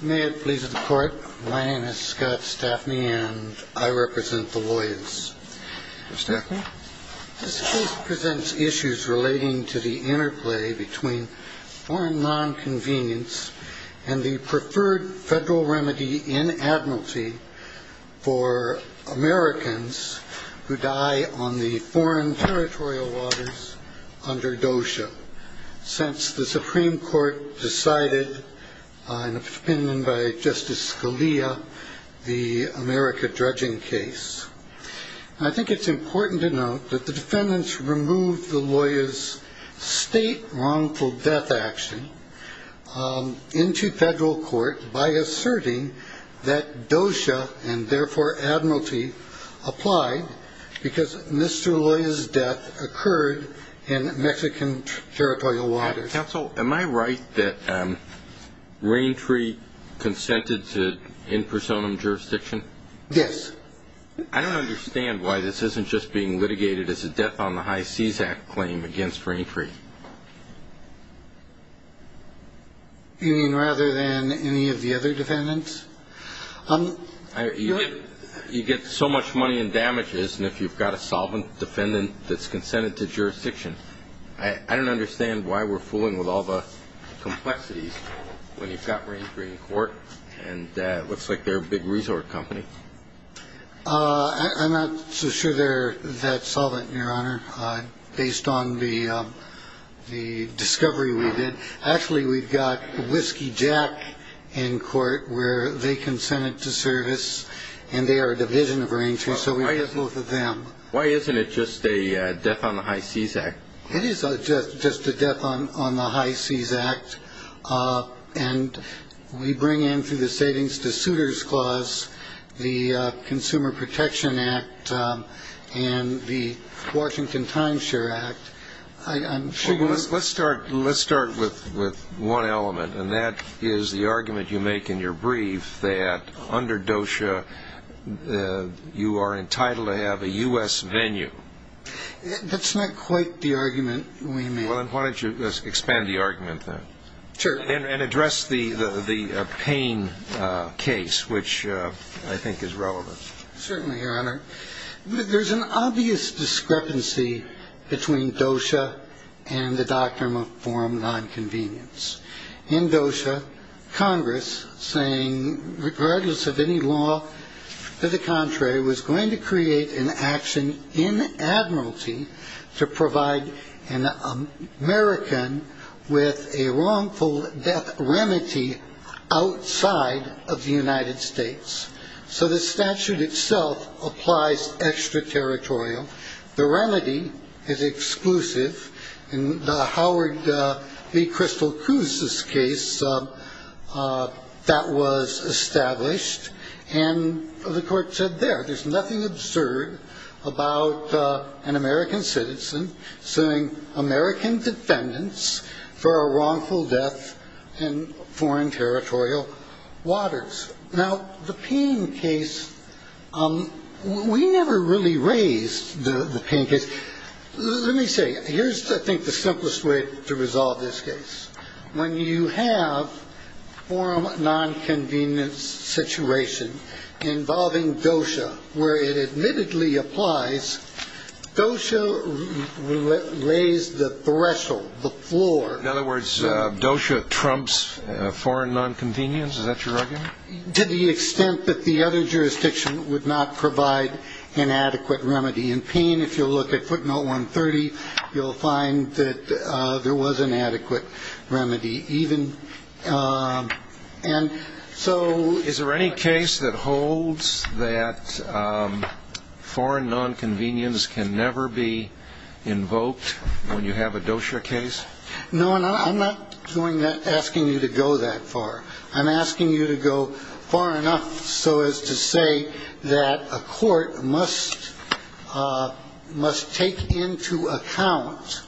May it please the Court, my name is Scott Staffney and I represent the Loya's. Mr. Staffney. This case presents issues relating to the interplay between foreign non-convenience and the preferred federal remedy in admiralty for Americans who die on the foreign territorial waters under DOSHA. Since the Supreme Court decided, in opinion by Justice Scalia, the America dredging case, I think it's important to note that the defendants removed the Loya's state wrongful death action into federal court by asserting that DOSHA and therefore Admiralty applied because Mr. Loya's death occurred in Mexican territorial waters. Counsel, am I right that Raintree consented to in personam jurisdiction? Yes. I don't understand why this isn't just being litigated as a death on the High Seas Act claim against Raintree. You mean rather than any of the other defendants? You get so much money in damages and if you've got a solvent defendant that's consented to jurisdiction, I don't understand why we're fooling with all the complexities when you've got Raintree in court and it looks like they're a big resort company. I'm not so sure they're that solvent, Your Honor, based on the discovery we did. Actually, we've got Whiskey Jack in court where they consented to service and they are a division of Raintree so we have both of them. Why isn't it just a death on the High Seas Act? It is just a death on the High Seas Act and we bring in through the Savings to Suitors Clause, the Consumer Protection Act, and the Washington Times Share Act. Let's start with one element and that is the argument you make in your brief that under DOSHA you are entitled to have a U.S. venue. That's not quite the argument we make. Why don't you expand the argument then and address the Payne case, which I think is relevant. Certainly, Your Honor. There's an obvious discrepancy between DOSHA and the Doctrine and Form of Nonconvenience. In DOSHA, Congress, saying regardless of any law to the contrary, was going to create an action in admiralty to provide an American with a wrongful death remedy outside of the United States. So the statute itself applies extra-territorial. The remedy is exclusive. In the Howard B. Crystal Cruz's case, that was established and the court said there. There's nothing absurd about an American citizen suing American defendants for a wrongful death in foreign territorial waters. Now, the Payne case, we never really raised the Payne case. Let me say, here's I think the simplest way to resolve this case. When you have form of nonconvenience situation involving DOSHA where it admittedly applies, DOSHA raised the threshold, the floor. In other words, DOSHA trumps foreign nonconvenience? Is that your argument? To the extent that the other jurisdiction would not provide an adequate remedy. In Payne, if you'll look at footnote 130, you'll find that there was an adequate remedy. So is there any case that holds that foreign nonconvenience can never be invoked when you have a DOSHA case? No, and I'm not asking you to go that far. I'm asking you to go far enough so as to say that a court must take into account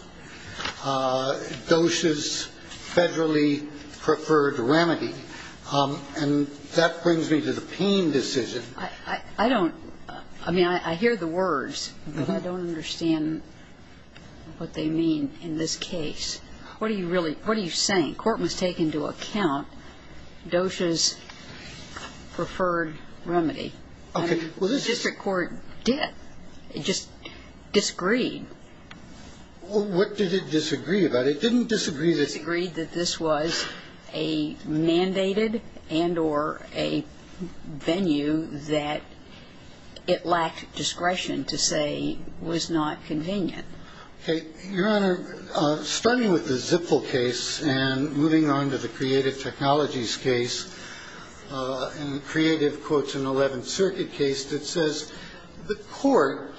DOSHA's federally preferred remedy. And that brings me to the Payne decision. I don't – I mean, I hear the words, but I don't understand what they mean in this case. What are you really – what are you saying? The court must take into account DOSHA's preferred remedy. Okay. The district court did. It just disagreed. What did it disagree about? It didn't disagree that – It disagreed that this was a mandated and or a venue that it lacked discretion to say was not convenient. Okay. Your Honor, starting with the Zipfel case and moving on to the creative technologies case, and creative quotes an 11th Circuit case that says the court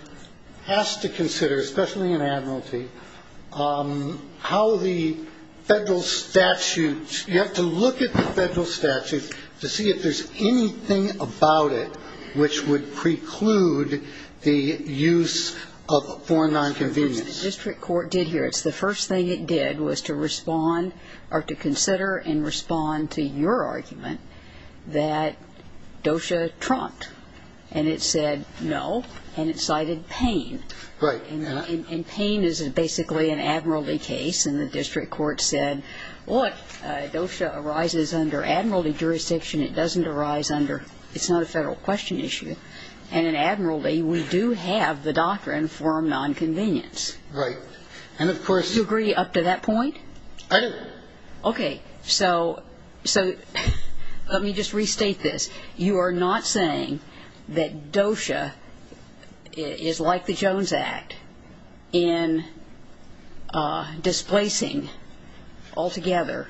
has to consider, especially an admiralty, how the federal statute – you have to look at the federal statute to see if there's anything about it which would preclude the use of foreign nonconvenience. The district court did here. It's the first thing it did was to respond or to consider and respond to your argument that DOSHA trumped. And it said no. And it cited Payne. Right. And Payne is basically an admiralty case. And the district court said, look, DOSHA arises under admiralty jurisdiction. It doesn't arise under – it's not a federal question issue. And in admiralty, we do have the doctrine of foreign nonconvenience. Right. And, of course – Do you agree up to that point? I do. Okay. So let me just restate this. You are not saying that DOSHA is like the Jones Act in displacing altogether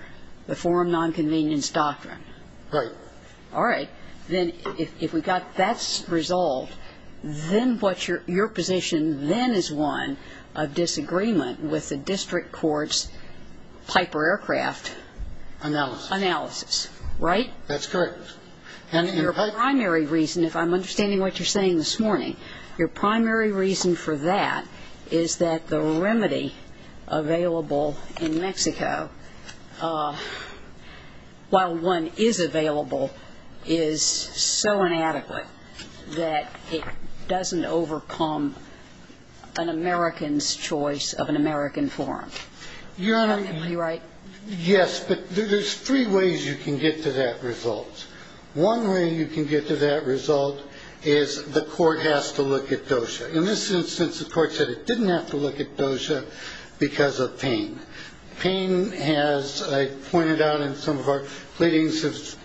the foreign nonconvenience doctrine. Right. All right. Then if we've got that resolved, then what's your position then is one of disagreement with the district court's Piper Aircraft? Analysis. Analysis. Right? That's correct. And your primary reason, if I'm understanding what you're saying this morning, your primary reason for that is that the remedy available in Mexico, while one is available, is so inadequate that it doesn't overcome an American's choice of an American forum. You're right. Yes. But there's three ways you can get to that result. One way you can get to that result is the court has to look at DOSHA. In this instance, the court said it didn't have to look at DOSHA because of pain. Pain, as I pointed out in some of our pleadings, has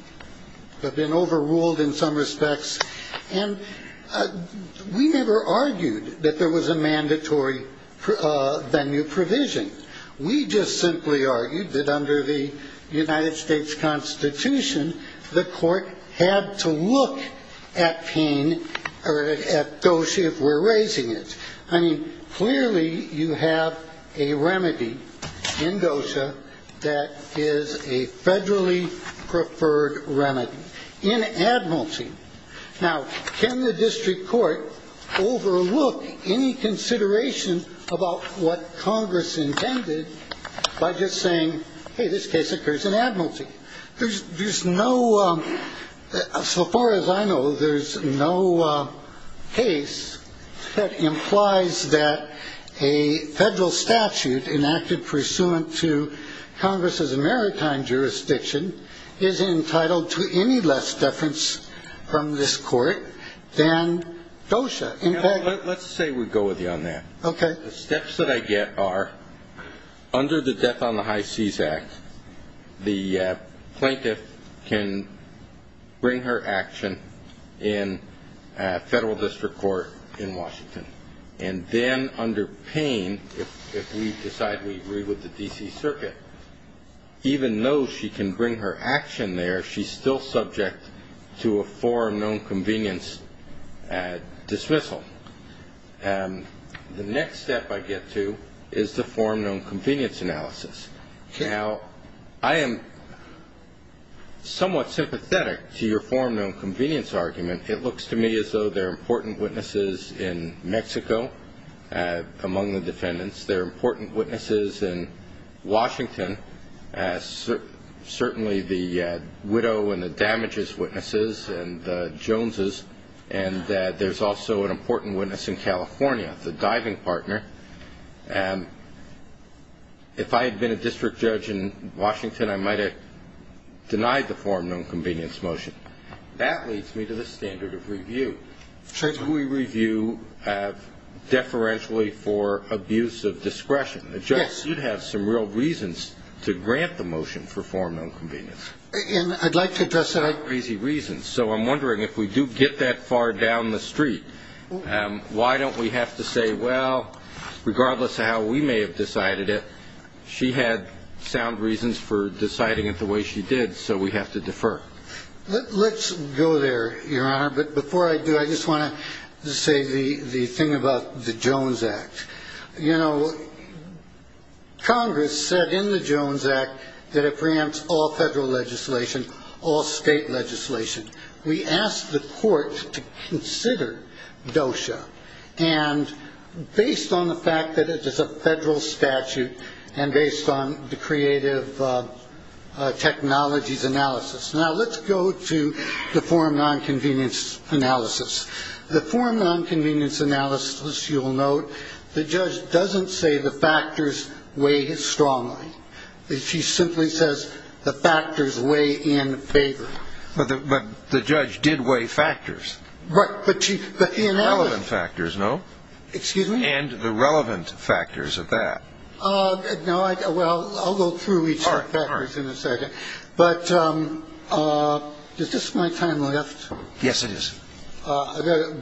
been overruled in some respects. And we never argued that there was a mandatory venue provision. We just simply argued that under the United States Constitution, the court had to look at pain or at DOSHA if we're raising it. I mean, clearly you have a remedy in DOSHA that is a federally preferred remedy in Admiralty. Now, can the district court overlook any consideration about what Congress intended by just saying, hey, this case occurs in Admiralty? There's no – so far as I know, there's no case that implies that a federal statute enacted pursuant to Congress's American jurisdiction is entitled to any less deference from this court than DOSHA. Let's say we go with you on that. Okay. The steps that I get are, under the Death on the High Seas Act, the plaintiff can bring her action in federal district court in Washington. And then under pain, if we decide we agree with the D.C. Circuit, even though she can bring her action there, she's still subject to a foreign known convenience dismissal. The next step I get to is the foreign known convenience analysis. Now, I am somewhat sympathetic to your foreign known convenience argument. It looks to me as though there are important witnesses in Mexico among the defendants. There are important witnesses in Washington, certainly the widow and the damages witnesses and the Joneses. And there's also an important witness in California, the diving partner. If I had been a district judge in Washington, I might have denied the foreign known convenience motion. That leads me to the standard of review. Should we review deferentially for abuse of discretion? Yes. The judge should have some real reasons to grant the motion for foreign known convenience. And I'd like to address that. So I'm wondering if we do get that far down the street, why don't we have to say, well, regardless of how we may have decided it, she had sound reasons for deciding it the way she did. So we have to defer. Let's go there, Your Honor. But before I do, I just want to say the thing about the Jones Act. You know, Congress said in the Jones Act that it preempts all federal legislation, all state legislation. We asked the court to consider DOSHA. And based on the fact that it is a federal statute and based on the creative technologies analysis. Now, let's go to the foreign known convenience analysis. The foreign known convenience analysis, you'll note, the judge doesn't say the factors weigh strongly. She simply says the factors weigh in favor. But the judge did weigh factors. Right. But the analysis. Relevant factors, no? Excuse me? And the relevant factors of that. No, well, I'll go through each of the factors in a second. But is this my time left? Yes, it is. Okay.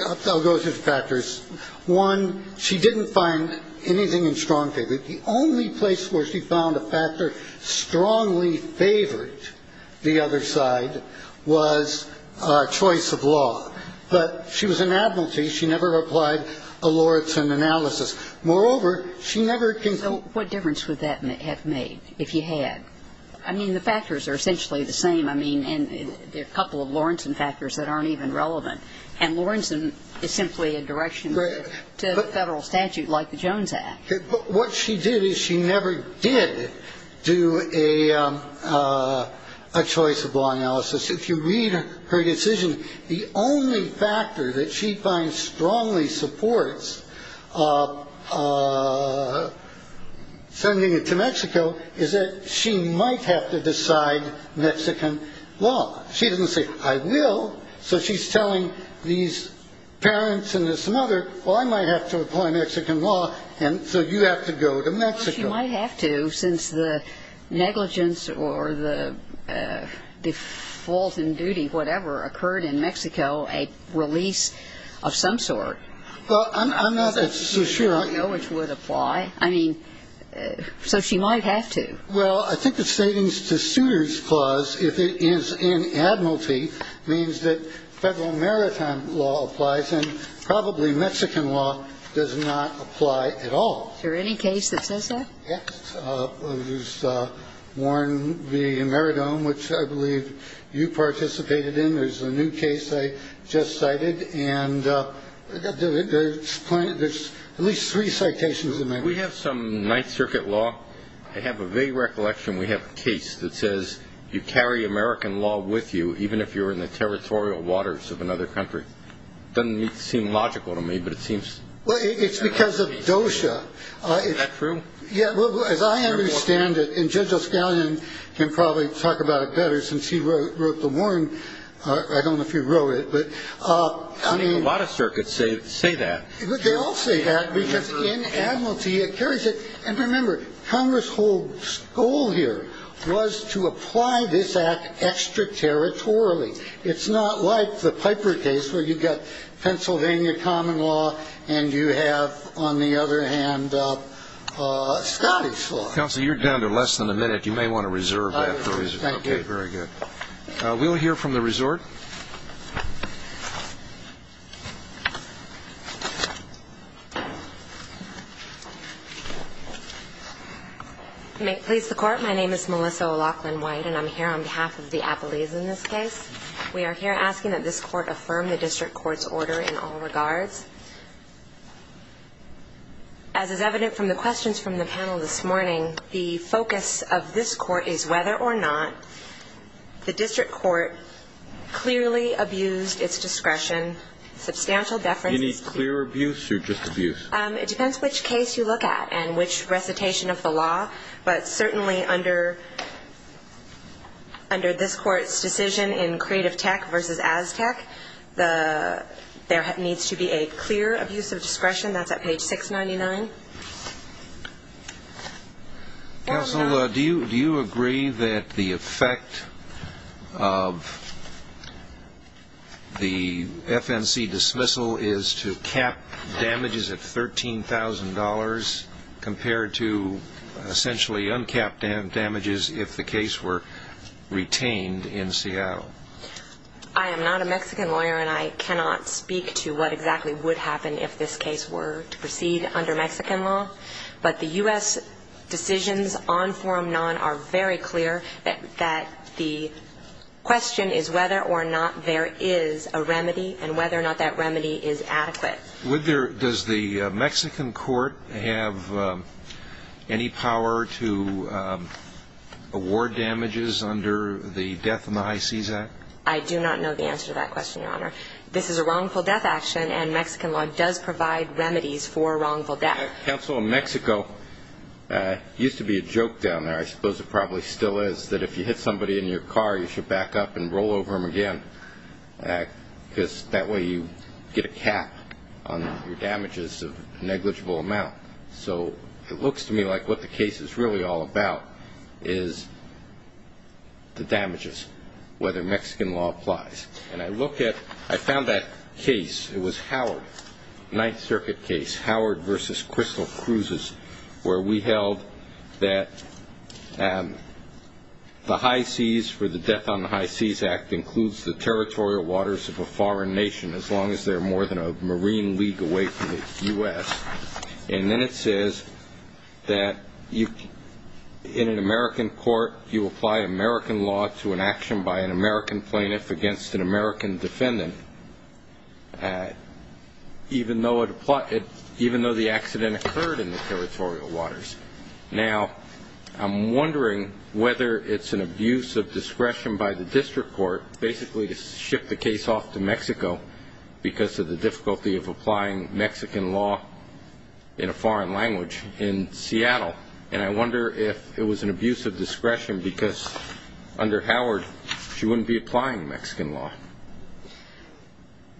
I'll go through the factors. One, she didn't find anything in strong favor. The only place where she found a factor strongly favored the other side was choice of law. But she was an admiralty. She never applied a Lorentzian analysis. Moreover, she never can. So what difference would that have made if you had? I mean, the factors are essentially the same. I mean, there are a couple of Lorentzian factors that aren't even relevant. And Lorentzian is simply a direction to Federal statute like the Jones Act. But what she did is she never did do a choice of law analysis. If you read her decision, the only factor that she finds strongly supports sending it to Mexico is that she might have to decide Mexican law. She didn't say, I will. So she's telling these parents and this mother, well, I might have to apply Mexican law. And so you have to go to Mexico. She might have to since the negligence or the default in duty, whatever, occurred in Mexico, a release of some sort. Well, I'm not so sure. I don't know which would apply. I mean, so she might have to. Well, I think the statings-to-suitors clause, if it is in admiralty, means that Federal maritime law applies and probably Mexican law does not apply at all. Is there any case that says that? Yes. There's Warren v. Meridome, which I believe you participated in. There's a new case I just cited. And there's at least three citations in there. We have some Ninth Circuit law. I have a vague recollection we have a case that says you carry American law with you, even if you're in the territorial waters of another country. Doesn't seem logical to me, but it seems. Well, it's because of DOSHA. Is that true? Yeah. As I understand it, and Judge O'Scallion can probably talk about it better since he wrote the Warren. I don't know if you wrote it, but I mean. A lot of circuits say that. But they all say that because in admiralty it carries it. And remember, Congress's whole goal here was to apply this act extraterritorially. It's not like the Piper case where you've got Pennsylvania common law and you have, on the other hand, Scottish law. Counsel, you're down to less than a minute. You may want to reserve that. Thank you. Very good. We'll hear from the resort. May it please the Court. My name is Melissa O'Loughlin-White, and I'm here on behalf of the appellees in this case. We are here asking that this Court affirm the district court's order in all regards. As is evident from the questions from the panel this morning, the focus of this court is whether or not the district court clearly abused its discretion. Substantial deference. Any clear abuse or just abuse? It depends which case you look at and which recitation of the law. But certainly under this court's decision in Creative Tech versus Aztec, there needs to be a clear abuse of discretion. That's at page 699. Counsel, do you agree that the effect of the FNC dismissal is to cap damages at $13,000 compared to essentially uncapped damages if the case were retained in Seattle? I am not a Mexican lawyer, and I cannot speak to what exactly would happen if this case were to proceed under Mexican law. But the U.S. decisions on forum non are very clear that the question is whether or not there is a remedy and whether or not that remedy is adequate. Does the Mexican court have any power to award damages under the Death in the High Seas Act? I do not know the answer to that question, Your Honor. This is a wrongful death action, and Mexican law does provide remedies for wrongful death. Counsel, Mexico used to be a joke down there. I suppose it probably still is, that if you hit somebody in your car, you should back up and roll over them again. Because that way you get a cap on your damages of negligible amount. So it looks to me like what the case is really all about is the damages, whether Mexican law applies. And I look at – I found that case. It was Howard, Ninth Circuit case, Howard v. Crystal Cruises, where we held that the high seas for the Death on the High Seas Act includes the territorial waters of a foreign nation as long as they're more than a marine league away from the U.S. And then it says that in an American court, you apply American law to an action by an American plaintiff against an American defendant, even though the accident occurred in the territorial waters. Now, I'm wondering whether it's an abuse of discretion by the district court basically to ship the case off to Mexico because of the difficulty of applying Mexican law in a foreign language in Seattle. And I wonder if it was an abuse of discretion because under Howard, she wouldn't be applying Mexican law.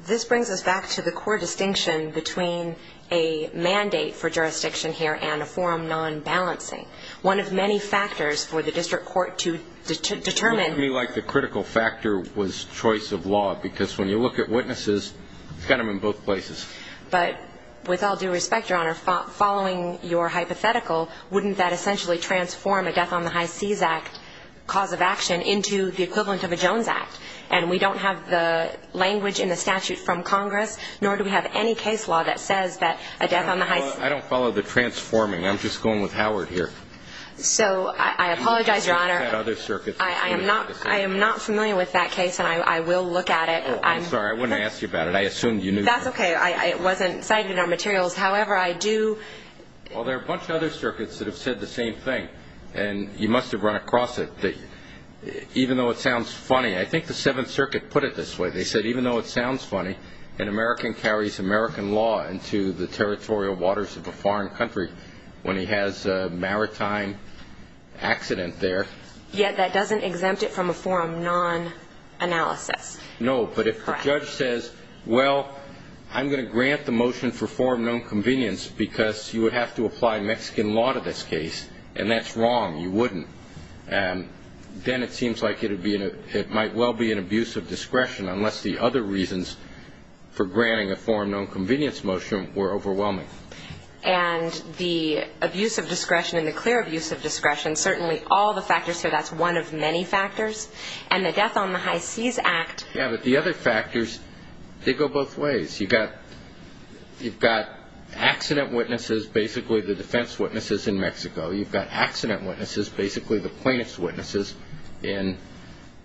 This brings us back to the core distinction between a mandate for jurisdiction here and a forum non-balancing. One of many factors for the district court to determine – It looked to me like the critical factor was choice of law, because when you look at witnesses, you've got them in both places. But with all due respect, Your Honor, following your hypothetical, wouldn't that essentially transform a Death on the High Seas Act cause of action into the equivalent of a Jones Act? And we don't have the language in the statute from Congress, nor do we have any case law that says that a Death on the High Seas – I don't follow the transforming. I'm just going with Howard here. So, I apologize, Your Honor. I'm not familiar with that case, and I will look at it. I'm sorry. I wouldn't ask you about it. I assumed you knew. That's okay. It wasn't cited in our materials. However, I do – Well, there are a bunch of other circuits that have said the same thing, and you must have run across it. Even though it sounds funny – I think the Seventh Circuit put it this way. They said, even though it sounds funny, an American carries American law into the territorial waters of a foreign country when he has a maritime accident there. Yet that doesn't exempt it from a forum non-analysis. No, but if the judge says, well, I'm going to grant the motion for forum non-convenience because you would have to apply Mexican law to this case, and that's wrong. You wouldn't. Then it seems like it might well be an abuse of discretion unless the other reasons for granting a forum non-convenience motion were overwhelming. And the abuse of discretion and the clear abuse of discretion, certainly all the factors here, that's one of many factors. And the Death on the High Seas Act – Yeah, but the other factors, they go both ways. You've got accident witnesses, basically the defense witnesses in Mexico. You've got accident witnesses, basically the plaintiff's witnesses in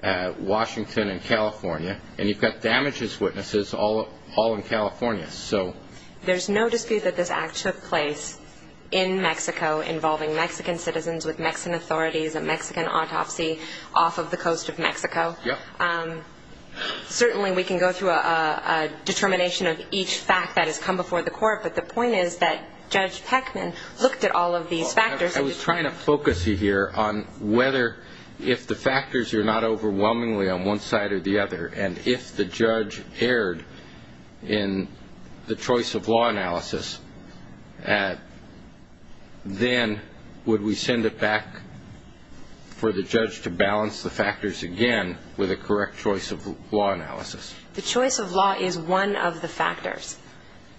Washington and California. And you've got damages witnesses all in California. There's no dispute that this act took place in Mexico involving Mexican citizens with Mexican authorities, a Mexican autopsy off of the coast of Mexico. Certainly we can go through a determination of each fact that has come before the court, but the point is that Judge Heckman looked at all of these factors. I was trying to focus you here on whether if the factors are not overwhelmingly on one side or the other, and if the judge erred in the choice of law analysis, then would we send it back for the judge to balance the factors again with a correct choice of law analysis? The choice of law is one of the factors.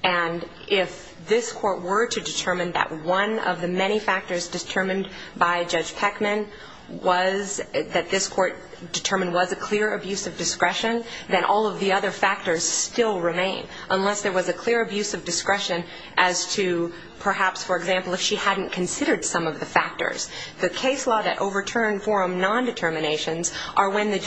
And if this court were to determine that one of the many factors determined by Judge Heckman was – that this court determined was a clear abuse of discretion, then all of the other factors still remain, unless there was a clear abuse of discretion as to perhaps, for example, if she hadn't considered some of the factors. The case law that overturned forum non-determinations are when the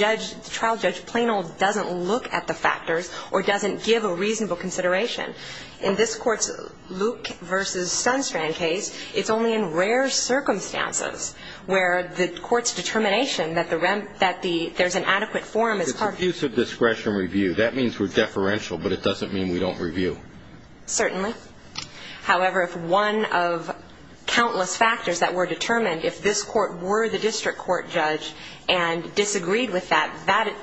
trial judge plain old doesn't look at the factors or doesn't give a reasonable consideration. In this court's Luke v. Sunstrand case, it's only in rare circumstances where the court's determination that there's an adequate forum is – It's abuse of discretion review. That means we're deferential, but it doesn't mean we don't review. Certainly. However, if one of countless factors that were determined, if this court were the district court judge and disagreed with that, that,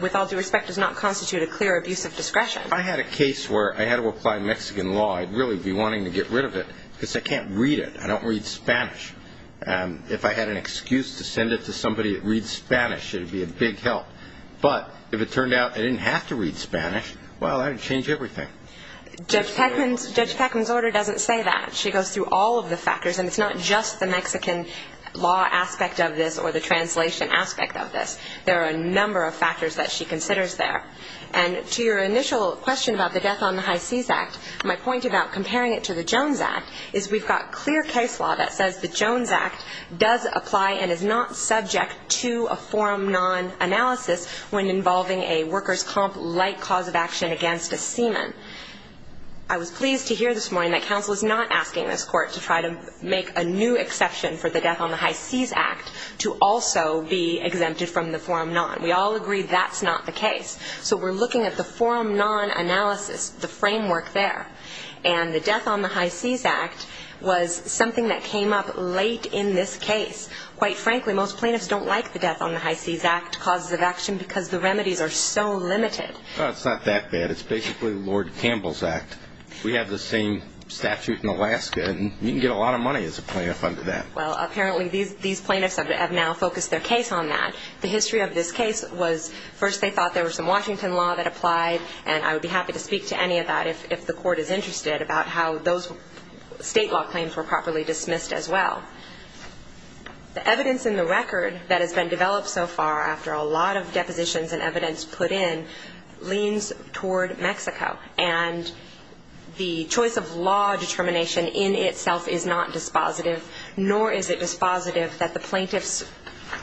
with all due respect, does not constitute a clear abuse of discretion. If I had a case where I had to apply Mexican law, I'd really be wanting to get rid of it because I can't read it. I don't read Spanish. If I had an excuse to send it to somebody that reads Spanish, it would be a big help. But if it turned out I didn't have to read Spanish, well, that would change everything. Judge Peckman's order doesn't say that. She goes through all of the factors, and it's not just the Mexican law aspect of this or the translation aspect of this. There are a number of factors that she considers there. And to your initial question about the Death on the High Seas Act, my point about comparing it to the Jones Act is we've got clear case law that says the Jones Act does apply and is not subject to a forum non-analysis when involving a workers' comp-like cause of action against a seaman. I was pleased to hear this morning that counsel is not asking this court to try to make a new exception for the Death on the High Seas Act to also be exempted from the forum non. We all agree that's not the case. So we're looking at the forum non analysis, the framework there. And the Death on the High Seas Act was something that came up late in this case. Quite frankly, most plaintiffs don't like the Death on the High Seas Act causes of action because the remedies are so limited. Well, it's not that bad. It's basically Lord Campbell's Act. We have the same statute in Alaska, and you can get a lot of money as a plaintiff under that. Well, apparently these plaintiffs have now focused their case on that. The history of this case was first they thought there was some Washington law that applied, and I would be happy to speak to any of that if the court is interested about how those state law claims were properly dismissed as well. The evidence in the record that has been developed so far, after a lot of depositions and evidence put in, leans toward Mexico, and the choice of law determination in itself is not dispositive, nor is it dispositive that the plaintiffs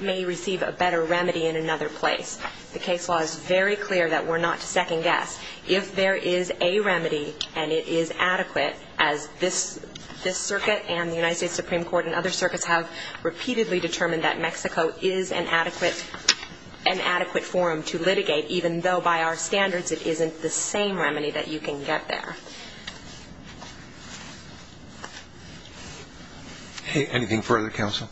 may receive a better remedy in another place. The case law is very clear that we're not to second-guess. If there is a remedy and it is adequate, as this circuit and the United States Supreme Court and other circuits have repeatedly determined that Mexico is an adequate forum to litigate, even though by our standards it isn't the same remedy that you can get there. Anything further, counsel?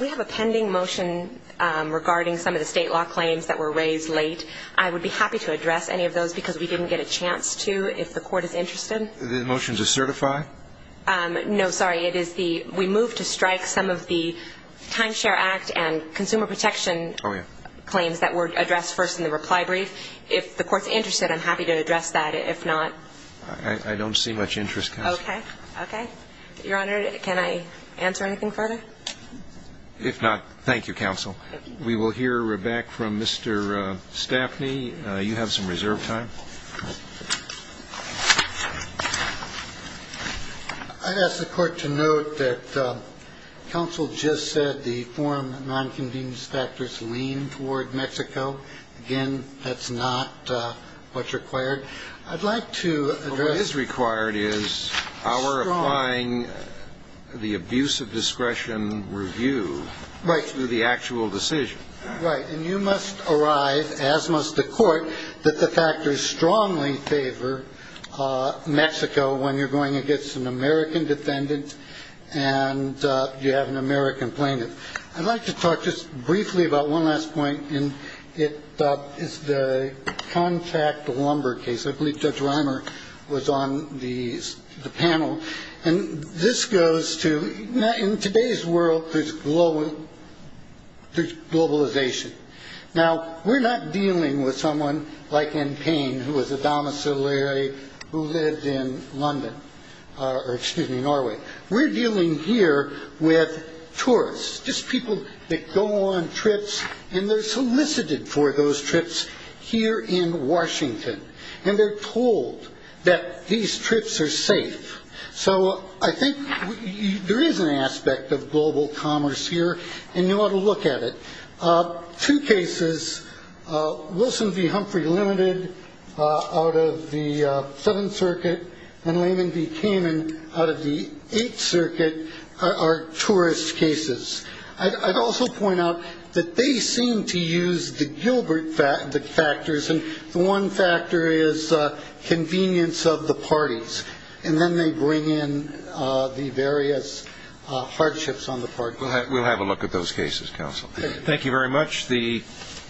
We have a pending motion regarding some of the state law claims that were raised late. I would be happy to address any of those because we didn't get a chance to, if the court is interested. The motion to certify? No, sorry. It is the we move to strike some of the Timeshare Act and consumer protection claims that were addressed first in the reply brief. If the court's interested, I'm happy to address that. If not, I don't see much interest, counsel. Okay. Okay. Your Honor, can I answer anything further? If not, thank you, counsel. We will hear back from Mr. Staffney. You have some reserve time. I'd ask the court to note that counsel just said the forum nonconvenience factors lean toward Mexico. Again, that's not what's required. I'd like to address. What is required is our applying the abuse of discretion review to the actual decision. Right. And you must arrive, as must the court, that the factors strongly favor Mexico when you're going against an American defendant and you have an American plaintiff. I'd like to talk just briefly about one last point. And it is the contract lumber case. I believe Judge Reimer was on the panel. And this goes to in today's world. There's global globalization. Now, we're not dealing with someone like in pain who was a domiciliary who lived in London or excuse me, Norway. We're dealing here with tourists, just people that go on trips and they're solicited for those trips here in Washington. And they're told that these trips are safe. So I think there is an aspect of global commerce here. And you ought to look at it. Two cases, Wilson v. Humphrey Limited out of the Seventh Circuit and Lehman v. Kamin out of the Eighth Circuit are tourist cases. I'd also point out that they seem to use the Gilbert factors. And the one factor is convenience of the parties. And then they bring in the various hardships on the part. Thank you very much. The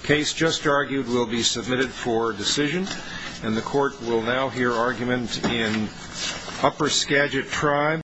case just argued will be submitted for decision. And the court will now hear argument in Upper Skagit Tribe.